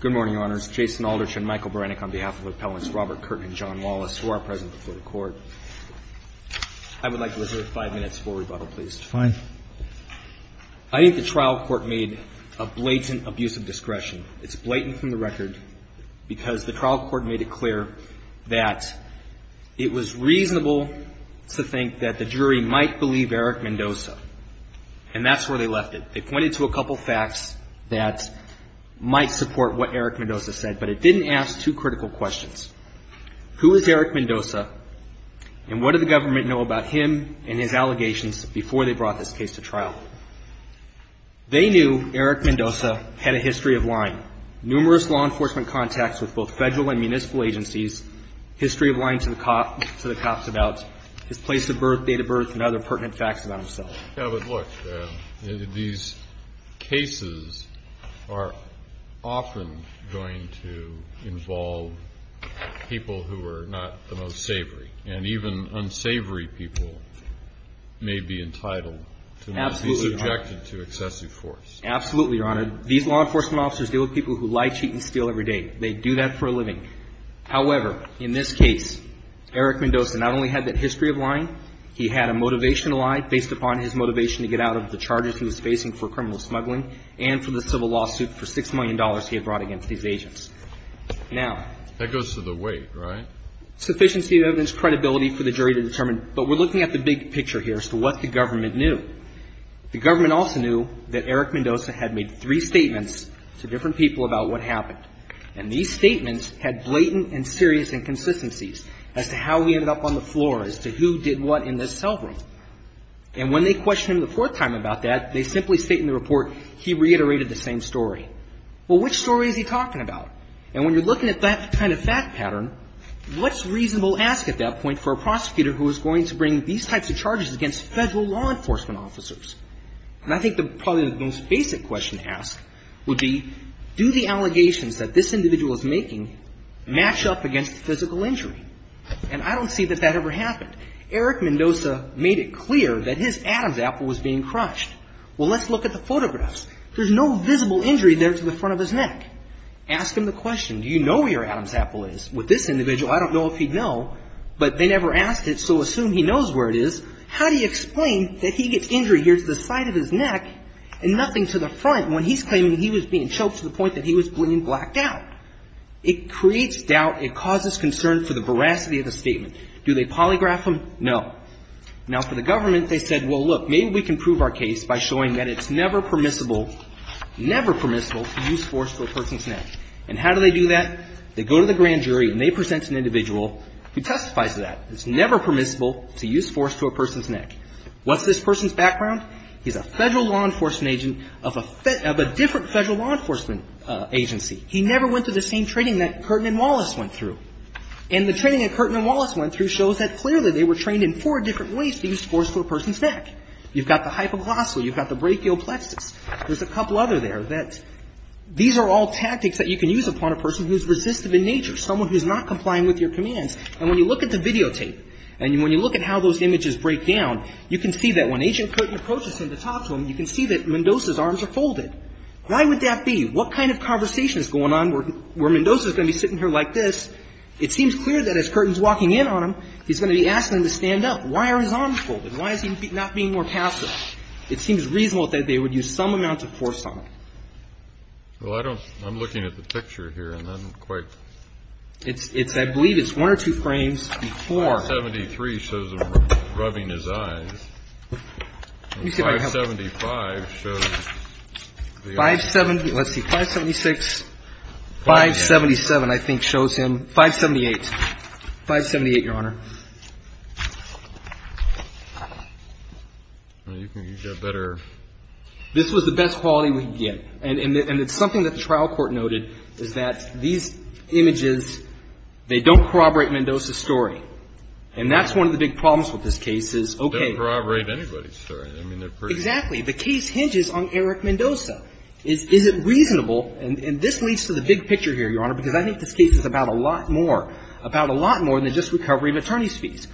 Good morning, Your Honors. Jason Aldrich and Michael Beranek on behalf of Appellants Robert Curtin and John Wallace, who are present before the Court. I would like to reserve five minutes for rebuttal, please. Fine. I think the trial court made a blatant abuse of discretion. It's blatant from the record because the trial court made it clear that it was reasonable to think that the jury might believe Eric Mendoza. And that's where they left it. They pointed to a couple facts that might support what Eric Mendoza said, but it didn't ask two critical questions. Who is Eric Mendoza and what did the government know about him and his allegations before they brought this case to trial? They knew Eric Mendoza had a history of lying. Numerous law enforcement contacts with both federal and municipal agencies, history of lying to the cops about his place of birth, date of birth, and other pertinent facts about himself. Yeah, but look, these cases are often going to involve people who are not the most savory. And even unsavory people may be entitled to be subjected to excessive force. Absolutely, Your Honor. These law enforcement officers deal with people who lie, cheat, and steal every day. They do that for a living. However, in this case, Eric Mendoza not only had that history of lying, he had a motivation to lie based upon his motivation to get out of the charges he was facing for criminal smuggling and for the civil lawsuit for $6 million he had brought against these agents. Now… That goes to the weight, right? Sufficiency of evidence, credibility for the jury to determine. But we're looking at the big picture here as to what the government knew. The government also knew that Eric Mendoza had made three statements to different people about what happened. And these statements had blatant and serious inconsistencies as to how he ended up on the floor, as to who did what in this cell room. And when they questioned him the fourth time about that, they simply stated in the report, he reiterated the same story. Well, which story is he talking about? And when you're looking at that kind of fact pattern, what's reasonable to ask at that point for a prosecutor who is going to bring these types of charges against Federal law enforcement officers? And I think probably the most basic question to ask would be, do the allegations that this individual is making match up against physical injury? And I don't see that that ever happened. Eric Mendoza made it clear that his Adam's apple was being crunched. Well, let's look at the photographs. There's no visible injury there to the front of his neck. Ask him the question, do you know where your Adam's apple is? With this individual, I don't know if he'd know, but they never asked it, so assume he knows where it is. How do you explain that he gets injury here to the side of his neck and nothing to the front when he's claiming he was being choked to the point that he was being blacked out? It creates doubt. It causes concern for the veracity of the statement. Do they polygraph him? No. Now, for the government, they said, well, look, maybe we can prove our case by showing that it's never permissible, never permissible to use force to a person's neck. And how do they do that? They go to the grand jury and they present an individual who testifies to that. It's never permissible to use force to a person's neck. What's this person's background? He's a federal law enforcement agent of a different federal law enforcement agency. He never went through the same training that Curtin and Wallace went through. And the training that Curtin and Wallace went through shows that clearly they were trained in four different ways to use force to a person's neck. You've got the hypoglossal. You've got the brachial plexus. There's a couple other there that these are all tactics that you can use upon a person who's resistive in nature, someone who's not complying with your commands. And when you look at the videotape and when you look at how those images break down, you can see that when Agent Curtin approaches him to talk to him, you can see that Mendoza's arms are folded. Why would that be? What kind of conversation is going on where Mendoza's going to be sitting here like this? It seems clear that as Curtin's walking in on him, he's going to be asking him to stand up. Why are his arms folded? Why is he not being more passive? It seems reasonable that they would use some amount of force on him. Well, I'm looking at the picture here and I'm quite... I believe it's one or two frames before... 573 shows him rubbing his eyes. Let me see if I can help you. 575 shows... 570, let's see, 576, 577 I think shows him... 578. 578, Your Honor. You've got better... This was the best quality we could get. And it's something that the trial court noted is that these images, they don't corroborate Mendoza's story. And that's one of the big problems with this case is... They don't corroborate anybody's story. I mean, they're pretty... Exactly. The case hinges on Eric Mendoza. Is it reasonable, and this leads to the big picture here, Your Honor, because I think this case is about a lot more, about a lot more than just recovery of attorney's fees.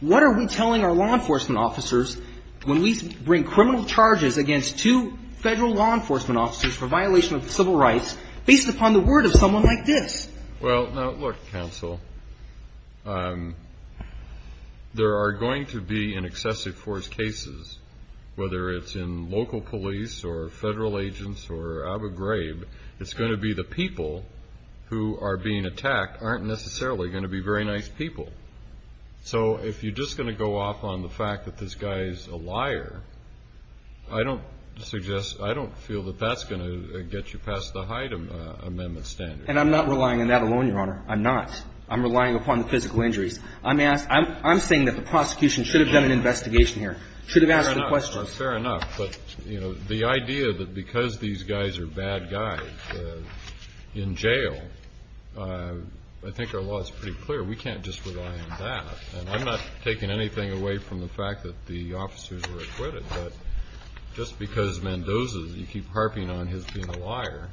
What are we telling our law enforcement officers when we bring criminal charges against two federal law enforcement officers for violation of civil rights based upon the word of someone like this? Well, now, look, counsel, there are going to be in excessive force cases, whether it's in local police or federal agents or Abu Ghraib, it's going to be the people who are being attacked aren't necessarily going to be very nice people. So if you're just going to go off on the fact that this guy is a liar, I don't suggest, I don't feel that that's going to get you past the Hyde Amendment standard. And I'm not relying on that alone, Your Honor. I'm not. I'm relying upon the physical injuries. I'm saying that the prosecution should have done an investigation here, should have asked the questions. Fair enough. But, you know, the idea that because these guys are bad guys in jail, I think our law is pretty clear. We can't just rely on that. And I'm not taking anything away from the fact that the officers were acquitted, but just because Mendoza, you keep harping on his being a liar,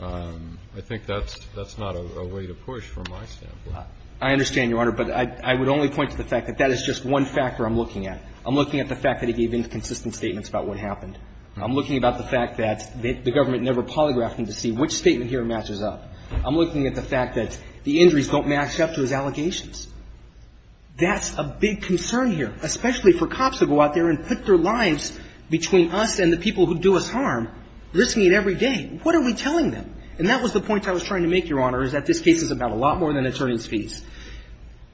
I think that's not a way to push from my standpoint. I understand, Your Honor, but I would only point to the fact that that is just one factor I'm looking at. I'm looking at the fact that he gave inconsistent statements about what happened. I'm looking about the fact that the government never polygraphed him to see which statement here matches up. I'm looking at the fact that the injuries don't match up to his allegations. That's a big concern here, especially for cops who go out there and put their lives between us and the people who do us harm, risking it every day. What are we telling them? And that was the point I was trying to make, Your Honor, is that this case is about a lot more than attorney's fees.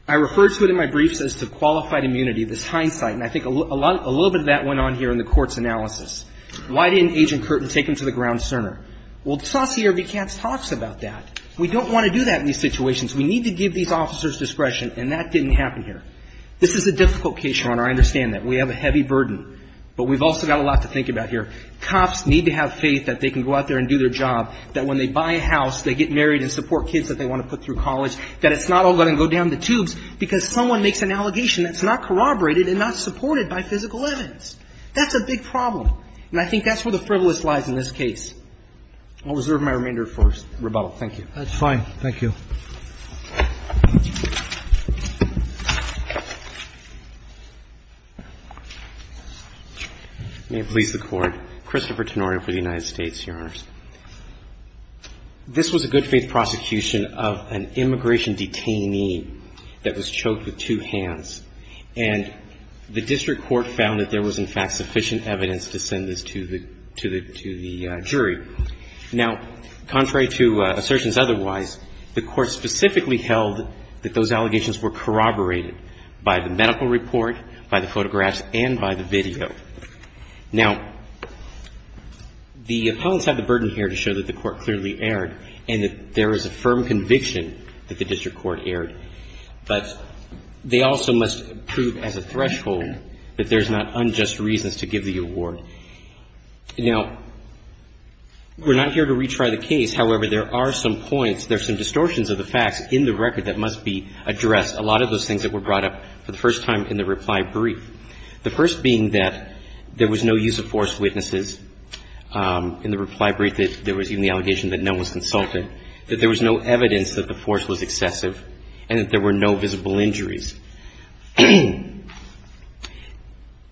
I referred to it in my briefs as to qualified immunity, this hindsight, and I think a little bit of that went on here in the court's analysis. Why didn't Agent Curtin take him to the ground sooner? Well, Saucier v. Katz talks about that. We don't want to do that in these situations. We need to give these officers discretion, and that didn't happen here. This is a difficult case, Your Honor. I understand that. We have a heavy burden, but we've also got a lot to think about here. Cops need to have faith that they can go out there and do their job, that when they buy a house, they get married and support kids that they want to put through college, that it's not all going to go down the tubes because someone makes an allegation that's not corroborated and not supported by physical evidence. That's a big problem, and I think that's where the frivolous lies in this case. I'll reserve my remainder for rebuttal. Thank you. That's fine. Thank you. May it please the Court. Christopher Tenorio for the United States, Your Honor. This was a good-faith prosecution of an immigration detainee that was choked with two hands, and the district court found that there was, in fact, sufficient evidence to send this to the jury. Now, contrary to assertions otherwise, the Court specifically held that those allegations were corroborated by the medical report, by the photographs, and by the video. Now, the opponents have the burden here to show that the Court clearly erred and that there is a firm conviction that the district court erred, but they also must prove as a threshold that there's not unjust reasons to give the award. Now, we're not here to retry the case. However, there are some points, there are some distortions of the facts in the record that must be addressed, a lot of those things that were brought up for the first time in the reply brief, the first being that there was no use of force witnesses in the reply brief, that there was even the allegation that no one was consulted, that there was no evidence that the force was excessive, and that there were no visible injuries.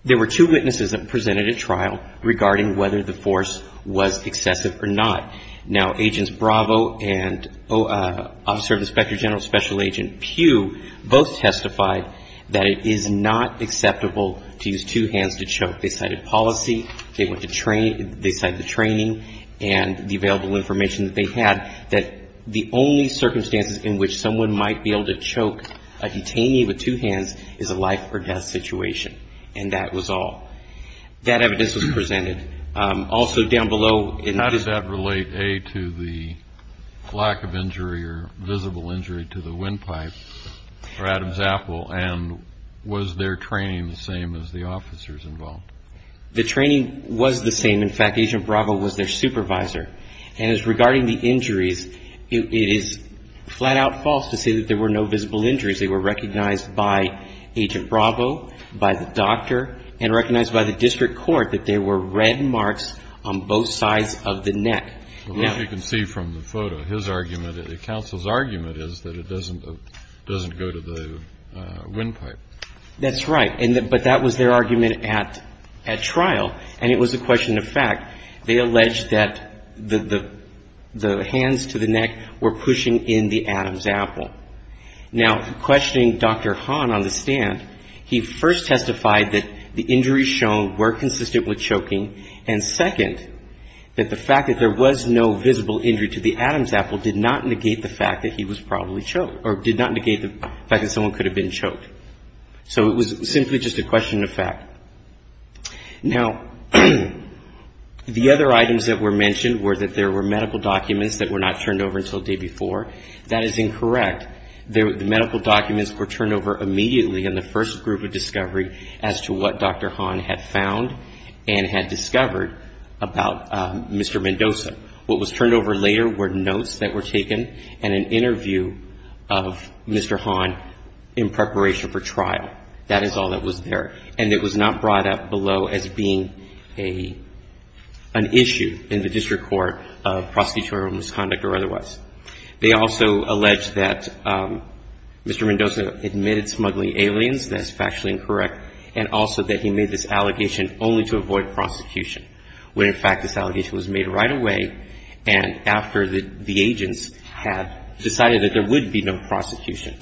There were two witnesses that presented at trial regarding whether the force was excessive or not. Now, Agents Bravo and Officer of the Inspector General, Special Agent Pugh, both testified that it is not acceptable to use two hands to choke. They cited policy, they went to training, they cited the training and the available information that they had, that the only circumstances in which someone might be able to choke a detainee with two hands is a life or death situation, and that was all. That evidence was presented. Also, down below in this. Does that relate, A, to the lack of injury or visible injury to the windpipe for Adam Zapple, and was their training the same as the officers involved? The training was the same. In fact, Agent Bravo was their supervisor. And as regarding the injuries, it is flat-out false to say that there were no visible injuries. They were recognized by Agent Bravo, by the doctor, and recognized by the district court that there were red marks on both sides of the neck. As you can see from the photo, his argument, the counsel's argument is that it doesn't go to the windpipe. That's right. But that was their argument at trial, and it was a question of fact. They alleged that the hands to the neck were pushing in the Adam Zapple. Now, questioning Dr. Hahn on the stand, he first testified that the injuries shown were consistent with choking, and second, that the fact that there was no visible injury to the Adam Zapple did not negate the fact that he was probably choked, or did not negate the fact that someone could have been choked. So it was simply just a question of fact. Now, the other items that were mentioned were that there were medical documents that were not turned over until the day before. That is incorrect. The medical documents were turned over immediately in the first group of discovery as to what Dr. Hahn had found and had discovered about Mr. Mendoza. What was turned over later were notes that were taken and an interview of Mr. Hahn in preparation for trial. That is all that was there. And it was not brought up below as being an issue in the district court of prosecutorial misconduct or otherwise. They also allege that Mr. Mendoza admitted smuggling aliens. That is factually incorrect. And also that he made this allegation only to avoid prosecution, when, in fact, this allegation was made right away and after the agents had decided that there would be no prosecution.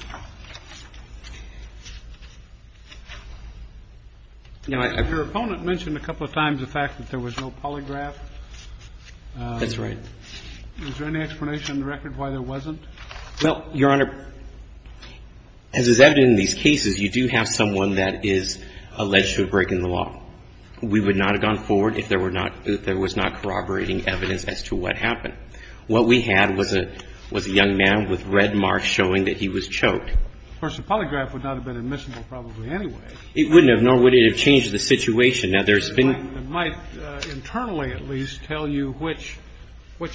Your opponent mentioned a couple of times the fact that there was no polygraph. That's right. Is there any explanation in the record why there wasn't? Well, Your Honor, as is evident in these cases, you do have someone that is alleged to have broken the law. We would not have gone forward if there were not – if there was not corroborating evidence as to what happened. What we had was a young man with red marks showing that he was choked. Of course, the polygraph would not have been admissible probably anyway. It wouldn't have, nor would it have changed the situation. Now, there's been – It might internally at least tell you which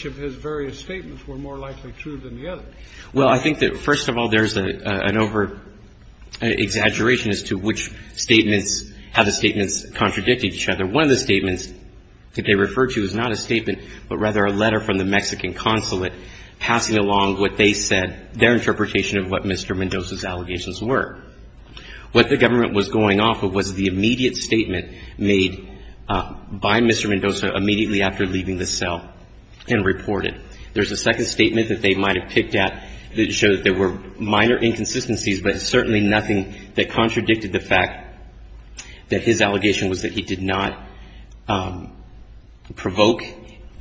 of his various statements were more likely true than the others. Well, I think that, first of all, there's an over-exaggeration as to which statements have the statements contradict each other. One of the statements that they referred to is not a statement, but rather a letter from the Mexican consulate passing along what they said, their interpretation of what Mr. Mendoza's allegations were. What the government was going off of was the immediate statement made by Mr. Mendoza immediately after leaving the cell and reported. There's a second statement that they might have picked at that showed that there were minor inconsistencies, but certainly nothing that contradicted the fact that his allegation was that he did not provoke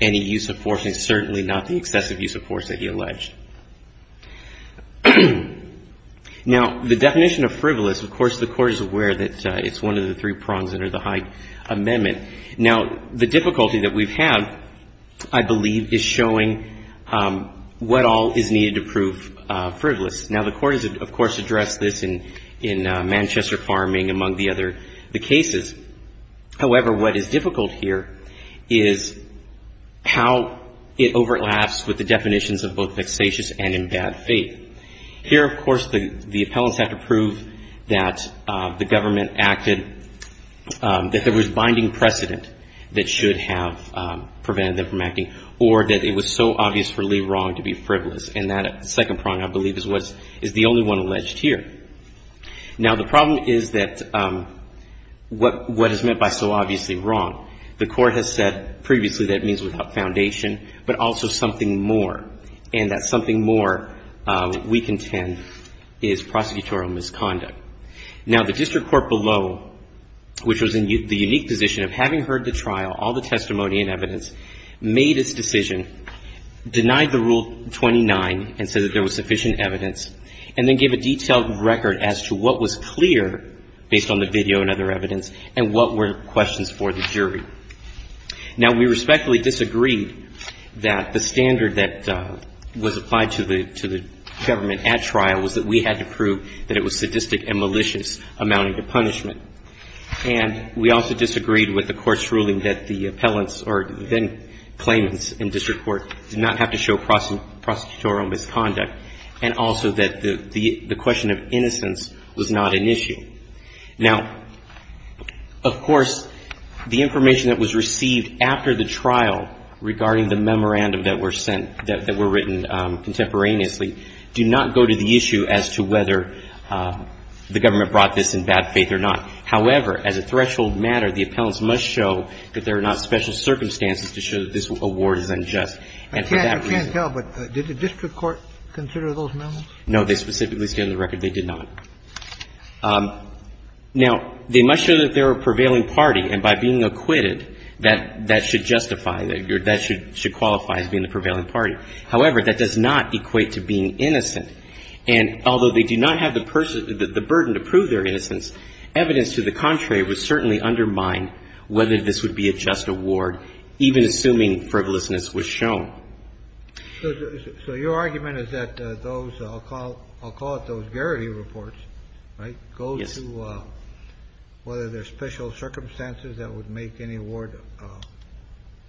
any use of force and certainly not the excessive use of force that he alleged. Now, the definition of frivolous, of course, the Court is aware that it's one of the three prongs under the Hyde Amendment. Now, the difficulty that we've had, I believe, is showing what all is needed to prove frivolous. Now, the Court has, of course, addressed this in Manchester Farming, among the other cases. However, what is difficult here is how it overlaps with the definitions of both vexatious and in bad faith. Here, of course, the appellants have to prove that the government acted, that there was binding precedent that should have prevented them from acting or that it was so obvious for Lee wrong to be frivolous. And that second prong, I believe, is the only one alleged here. Now, the problem is that what is meant by so obviously wrong, the Court has said previously that it means without foundation, but also something more, and that something more we contend is prosecutorial misconduct. Now, the district court below, which was in the unique position of having heard the trial, all the testimony and evidence, made its decision, denied the Rule 29 and said that there was sufficient evidence, and then gave a detailed record as to what was clear, based on the video and other evidence, and what were questions for the jury. Now, we respectfully disagreed that the standard that was applied to the government at trial was that we had to prove that it was sadistic and malicious, amounting to punishment. And we also disagreed with the Court's ruling that the appellants or then claimants in district court did not have to show prosecutorial misconduct, and also that the question of innocence was not an issue. Now, of course, the information that was received after the trial regarding the memorandum that were sent, that were written contemporaneously, do not go to the issue as to whether the government brought this in bad faith or not. However, as a threshold matter, the appellants must show that there are not special circumstances to show that this award is unjust, and for that reason. I can't tell, but did the district court consider those memos? No. They specifically stand on the record they did not. Now, they must show that they are a prevailing party, and by being acquitted, that should justify, that should qualify as being the prevailing party. However, that does not equate to being innocent. And although they do not have the burden to prove their innocence, evidence to the contrary would certainly undermine whether this would be a just award, even assuming frivolousness was shown. So your argument is that those, I'll call it those Garrity reports, right? Yes. Go to whether there are special circumstances that would make any award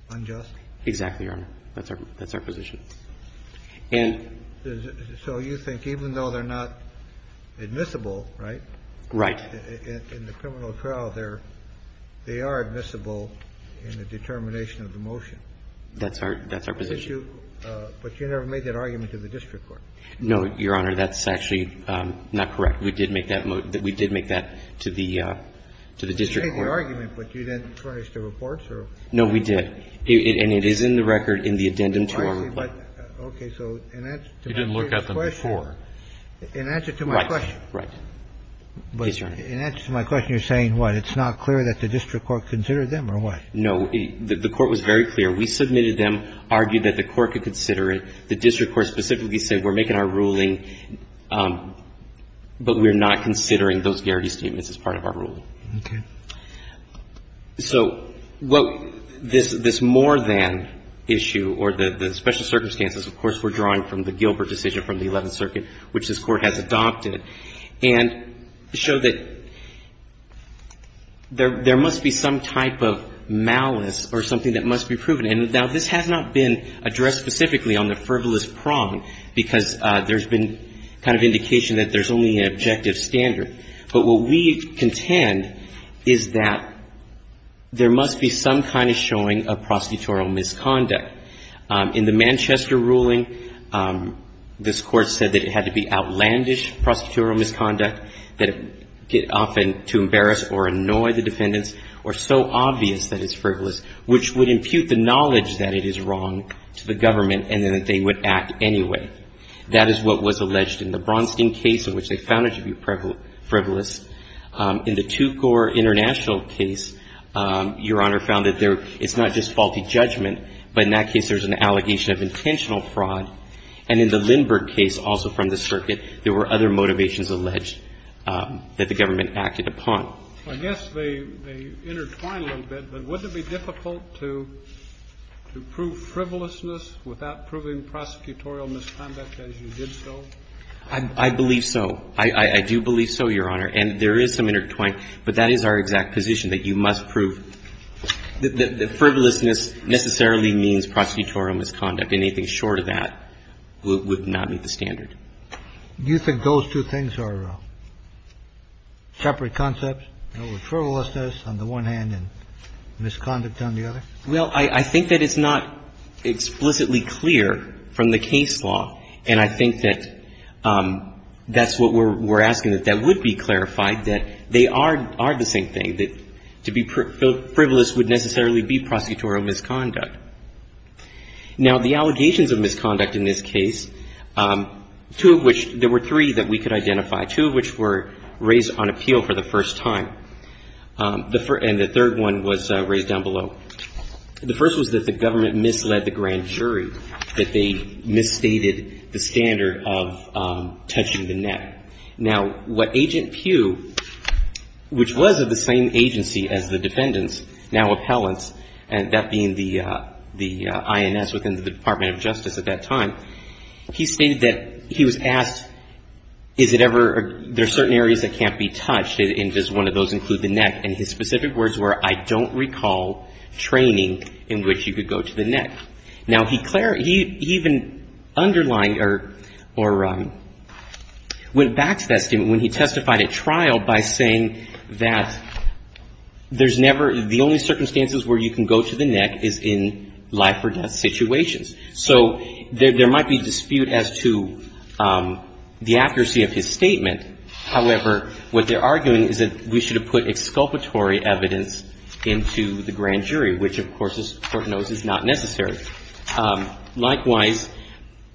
unjust? Exactly, Your Honor. That's our position. And so you think even though they're not admissible, right? Right. In the criminal trial, they are admissible in the determination of the motion. That's our position. But you never made that argument to the district court. No, Your Honor. That's actually not correct. We did make that to the district court. You made the argument, but you didn't furnish the reports? No, we did. And it is in the record in the addendum to our report. Okay. So in answer to my question. You didn't look at them before. In answer to my question. Right. Yes, Your Honor. In answer to my question, you're saying what? It's not clear that the district court considered them or what? No. The court was very clear. We submitted them, argued that the court could consider it. The district court specifically said we're making our ruling, but we're not considering those Garrity statements as part of our ruling. Okay. So this more than issue or the special circumstances, of course, we're drawing from the Gilbert decision from the Eleventh Circuit, which this Court has adopted, and show that there must be some type of malice or something that must be proven. And now, this has not been addressed specifically on the frivolous prong, because there's been kind of indication that there's only an objective standard. But what we contend is that there must be some kind of showing of prostitutorial misconduct. In the Manchester ruling, this Court said that it had to be outlandish prostitutorial misconduct, that often to embarrass or annoy the defendants, or so obvious that it's frivolous, which would impute the knowledge that it is wrong to the government, and that they would act anyway. That is what was alleged in the Bronstein case, in which they found it to be frivolous. In the Tukor International case, Your Honor, found that it's not just faulty judgment, but in that case, there's an allegation of intentional fraud. And in the Lindbergh case, also from the circuit, there were other motivations alleged that the government acted upon. I guess they intertwine a little bit, but wouldn't it be difficult to prove frivolousness without proving prosecutorial misconduct as you did so? I believe so. I do believe so, Your Honor. And there is some intertwine, but that is our exact position, that you must prove that frivolousness necessarily means prosecutorial misconduct. Anything short of that would not meet the standard. Do you think those two things are separate concepts, frivolousness on the one hand and misconduct on the other? Well, I think that it's not explicitly clear from the case law, and I think that that's what we're asking, that that would be clarified, that they are the same thing, that to be frivolous would necessarily be prosecutorial misconduct. Now, the allegations of misconduct in this case, two of which, there were three that we could identify, two of which were raised on appeal for the first time, and the third one was raised down below. The first was that the government misled the grand jury, that they misstated the standard of touching the neck. Now, what Agent Pugh, which was of the same agency as the defendants, now appellants, and that being the INS within the Department of Justice at that time, he stated that he was asked, is it ever, are there certain areas that can't be touched, and does one of those include the neck? And his specific words were, I don't recall training in which you could go to the neck. Now, he even underlined or went back to that statement when he testified at trial by saying that there's never the only circumstances where you can go to the neck is in life or death situations. So there might be dispute as to the accuracy of his statement. However, what they're arguing is that we should have put exculpatory evidence into the grand jury, which, of course, as the Court knows, is not necessary. Likewise,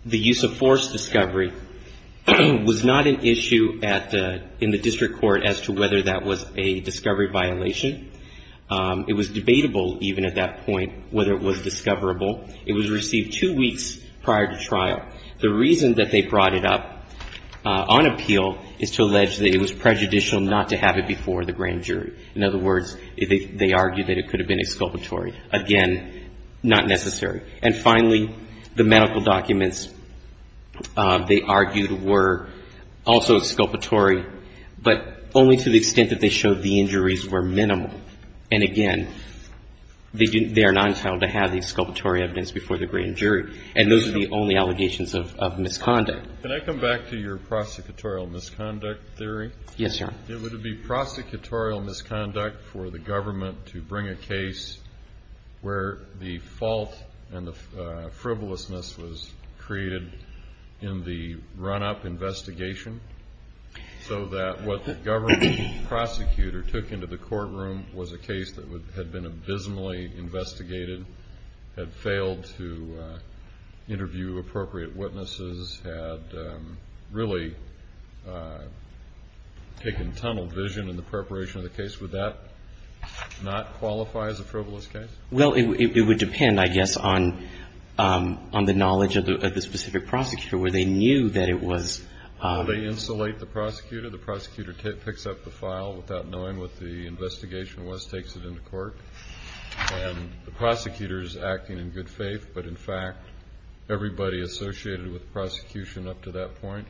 the use of force discovery was not an issue in the district court as to whether that was a discovery violation. It was debatable even at that point whether it was discoverable. It was received two weeks prior to trial. The reason that they brought it up on appeal is to allege that it was prejudicial not to have it before the grand jury. In other words, they argued that it could have been exculpatory. Again, not necessary. And finally, the medical documents, they argued, were also exculpatory, but only to the extent that they showed the injuries were minimal. And again, they are not entitled to have the exculpatory evidence before the grand jury. And those are the only allegations of misconduct. Can I come back to your prosecutorial misconduct theory? Yes, Your Honor. It would be prosecutorial misconduct for the government to bring a case where the fault and the frivolousness was created in the run-up investigation so that what the government prosecutor took into the courtroom was a case that had been abysmally investigated, had failed to interview appropriate witnesses, had really taken tunnel vision in the preparation of the case. Would that not qualify as a frivolous case? Well, it would depend, I guess, on the knowledge of the specific prosecutor, where they knew that it was. Well, they insulate the prosecutor. The prosecutor picks up the file without knowing what the investigation was, takes it into court. And the prosecutor is acting in good faith, but, in fact, everybody associated with the prosecution up to that point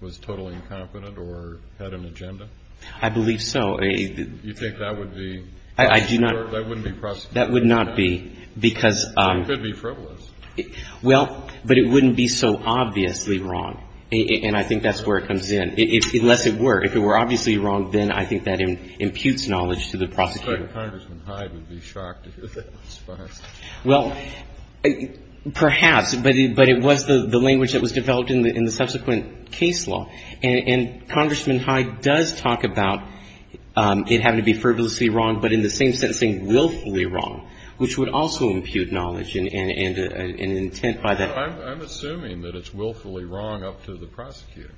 was totally incompetent or had an agenda? I believe so. You think that would be? I do not. That wouldn't be prosecutorial misconduct? That would not be, because. It could be frivolous. Well, but it wouldn't be so obviously wrong. And I think that's where it comes in. Unless it were. If it were obviously wrong, then I think that imputes knowledge to the prosecutor. In fact, Congressman Hyde would be shocked to hear that response. Well, perhaps. But it was the language that was developed in the subsequent case law. And Congressman Hyde does talk about it having to be frivolously wrong, but in the same sense saying willfully wrong, which would also impute knowledge and intent by the. I'm assuming that it's willfully wrong up to the prosecutor.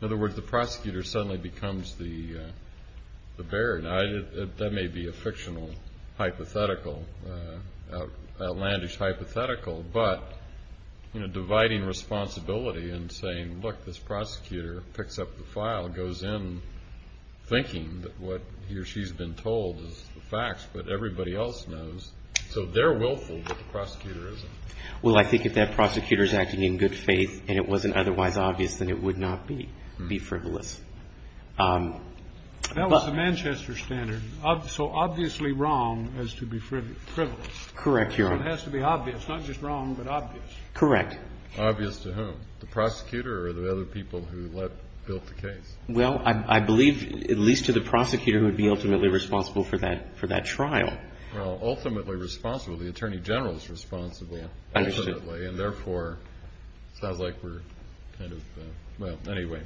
In other words, the prosecutor suddenly becomes the baron. I mean, that may be a fictional hypothetical, outlandish hypothetical, but dividing responsibility and saying, look, this prosecutor picks up the file, goes in thinking that what he or she's been told is the facts, but everybody else knows. So they're willful, but the prosecutor isn't. Well, I think if that prosecutor is acting in good faith and it wasn't otherwise obvious, then it would not be frivolous. That was the Manchester standard. So obviously wrong has to be frivolous. Correct, Your Honor. So it has to be obvious, not just wrong, but obvious. Correct. Obvious to whom? The prosecutor or the other people who built the case? Well, I believe at least to the prosecutor who would be ultimately responsible for that trial. Well, ultimately responsible. The attorney general is responsible ultimately. I understand. And therefore, it sounds like we're kind of, well, anyway.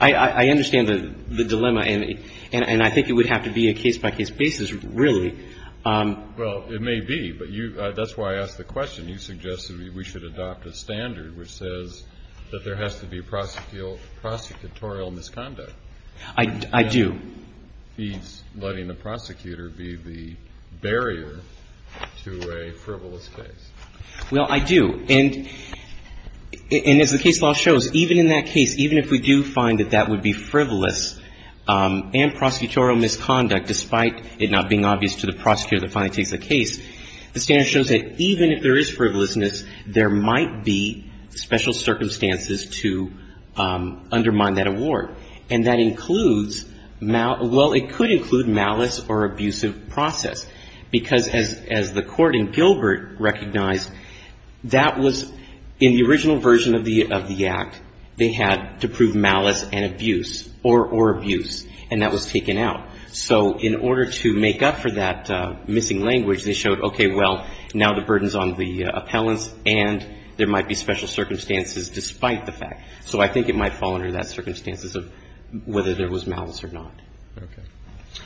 I understand the dilemma, and I think it would have to be a case-by-case basis, really. Well, it may be. But that's why I asked the question. You suggested we should adopt a standard which says that there has to be prosecutorial misconduct. I do. He's letting the prosecutor be the barrier to a frivolous case. Well, I do. And as the case law shows, even in that case, even if we do find that that would be frivolous and prosecutorial misconduct, despite it not being obvious to the prosecutor that finally takes the case, the standard shows that even if there is frivolousness, there might be special circumstances to undermine that award. And that includes mal ‑‑ well, it could include malice or abusive process. Because as the court in Gilbert recognized, that was in the original version of the act, they had to prove malice and abuse or abuse. And that was taken out. So in order to make up for that missing language, they showed, okay, well, now the burden is on the appellants, and there might be special circumstances despite the fact. So I think it might fall under that circumstances of whether there was malice or not. Okay.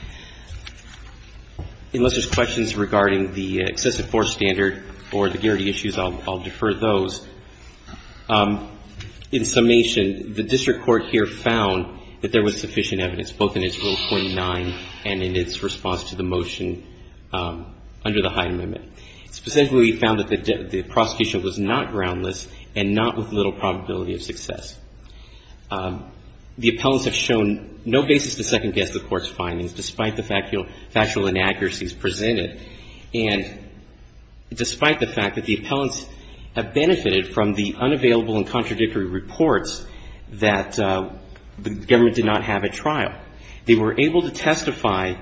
Unless there's questions regarding the excessive force standard or the Garrity issues, I'll defer those. In summation, the district court here found that there was sufficient evidence, both in its Rule 49 and in its response to the motion under the Hyde Amendment. Specifically, we found that the prosecution was not groundless and not with little probability of success. The appellants have shown no basis to second-guess the court's findings, despite the factual inaccuracies presented, and despite the fact that the appellants have benefited from the unavailable and contradictory reports that the government did not have at trial. They were able to testify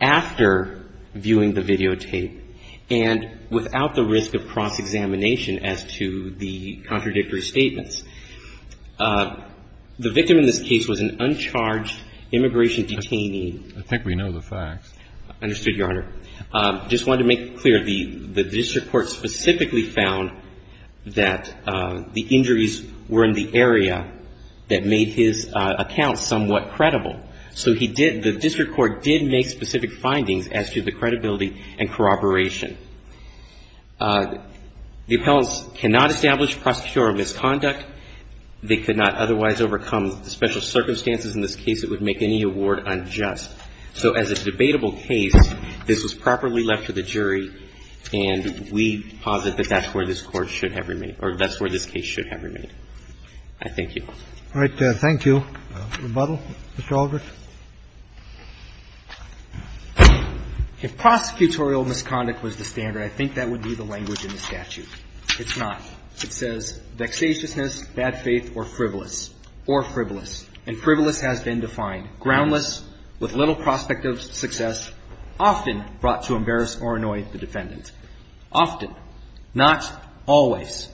after viewing the videotape and without the risk of cross-examination as to the contradictory statements. The victim in this case was an uncharged immigration detainee. I think we know the facts. Understood, Your Honor. I just wanted to make it clear. The district court specifically found that the injuries were in the area that made his account somewhat credible. So he did, the district court did make specific findings as to the credibility and corroboration. The appellants cannot establish prosecutorial misconduct. They could not otherwise overcome special circumstances. In this case, it would make any award unjust. So as a debatable case, this was properly left to the jury, and we posit that that's where this Court should have remained, or that's where this case should have remained. I thank you. All right. Thank you. Rebuttal, Mr. Aldrich. If prosecutorial misconduct was the standard, I think that would be the language in the statute. It's not. It says, vexatiousness, bad faith, or frivolous. Or frivolous. And frivolous has been defined. Groundless, with little prospect of success, often brought to embarrass or annoy the defendant. Often, not always.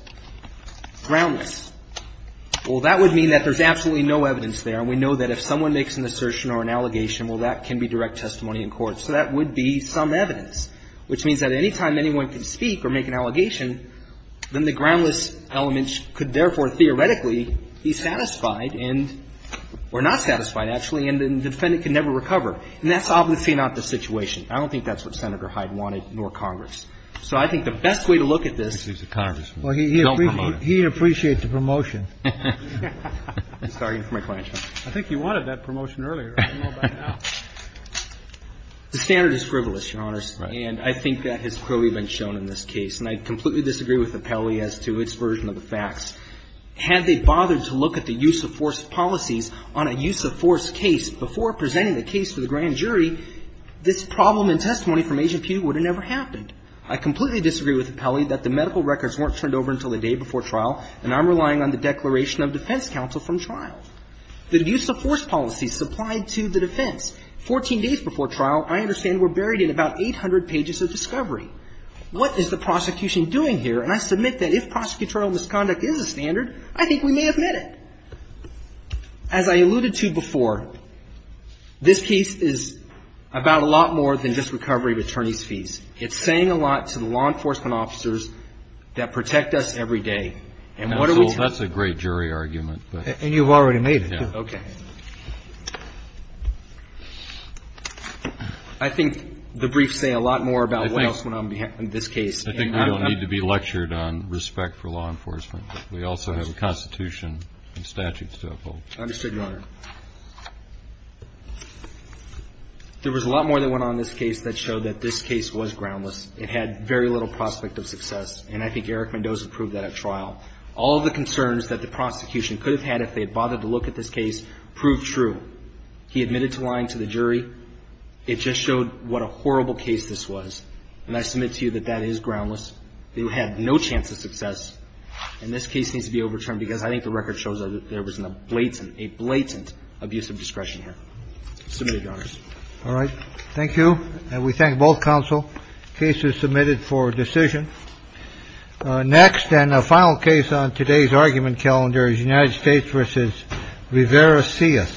Groundless. Well, that would mean that there's absolutely no evidence there, and we know that if someone makes an assertion or an allegation, well, that can be direct testimony in court. So that would be some evidence. Which means that any time anyone can speak or make an allegation, then the groundless element could therefore theoretically be satisfied and or not satisfied, actually, and the defendant can never recover. And that's obviously not the situation. I don't think that's what Senator Hyde wanted, nor Congress. So I think the best way to look at this is to don't promote it. Well, he appreciates the promotion. Sorry for my question. I think he wanted that promotion earlier. I don't know about now. The standard is frivolous, Your Honors. Right. And I think that has clearly been shown in this case. And I completely disagree with Appelli as to its version of the facts. Had they bothered to look at the use-of-force policies on a use-of-force case before presenting the case to the grand jury, this problem in testimony from Agent Pugh would have never happened. I completely disagree with Appelli that the medical records weren't turned over until the day before trial, and I'm relying on the declaration of defense counsel from trial. The use-of-force policies supplied to the defense, 14 days before trial, I understand were buried in about 800 pages of discovery. What is the prosecution doing here? And I submit that if prosecutorial misconduct is a standard, I think we may have met it. As I alluded to before, this case is about a lot more than just recovery of attorneys' fees. It's saying a lot to the law enforcement officers that protect us every day. And what are we telling them? That's a great jury argument. And you've already made it. Okay. I think the briefs say a lot more about what else went on in this case. I think we don't need to be lectured on respect for law enforcement. We also have a Constitution and statutes to uphold. I understand, Your Honor. There was a lot more that went on in this case that showed that this case was groundless. It had very little prospect of success, and I think Eric Mendoza proved that at trial. All of the concerns that the prosecution could have had if they had bothered to look at this case proved true. He admitted to lying to the jury. It just showed what a horrible case this was. And I submit to you that that is groundless. They had no chance of success. And this case needs to be overturned because I think the record shows that there was a blatant, a blatant abuse of discretion here. Submit it, Your Honors. All right. Thank you. And we thank both counsel. The case is submitted for decision. Next and a final case on today's argument calendar is United States versus Rivera. See us. Thank you.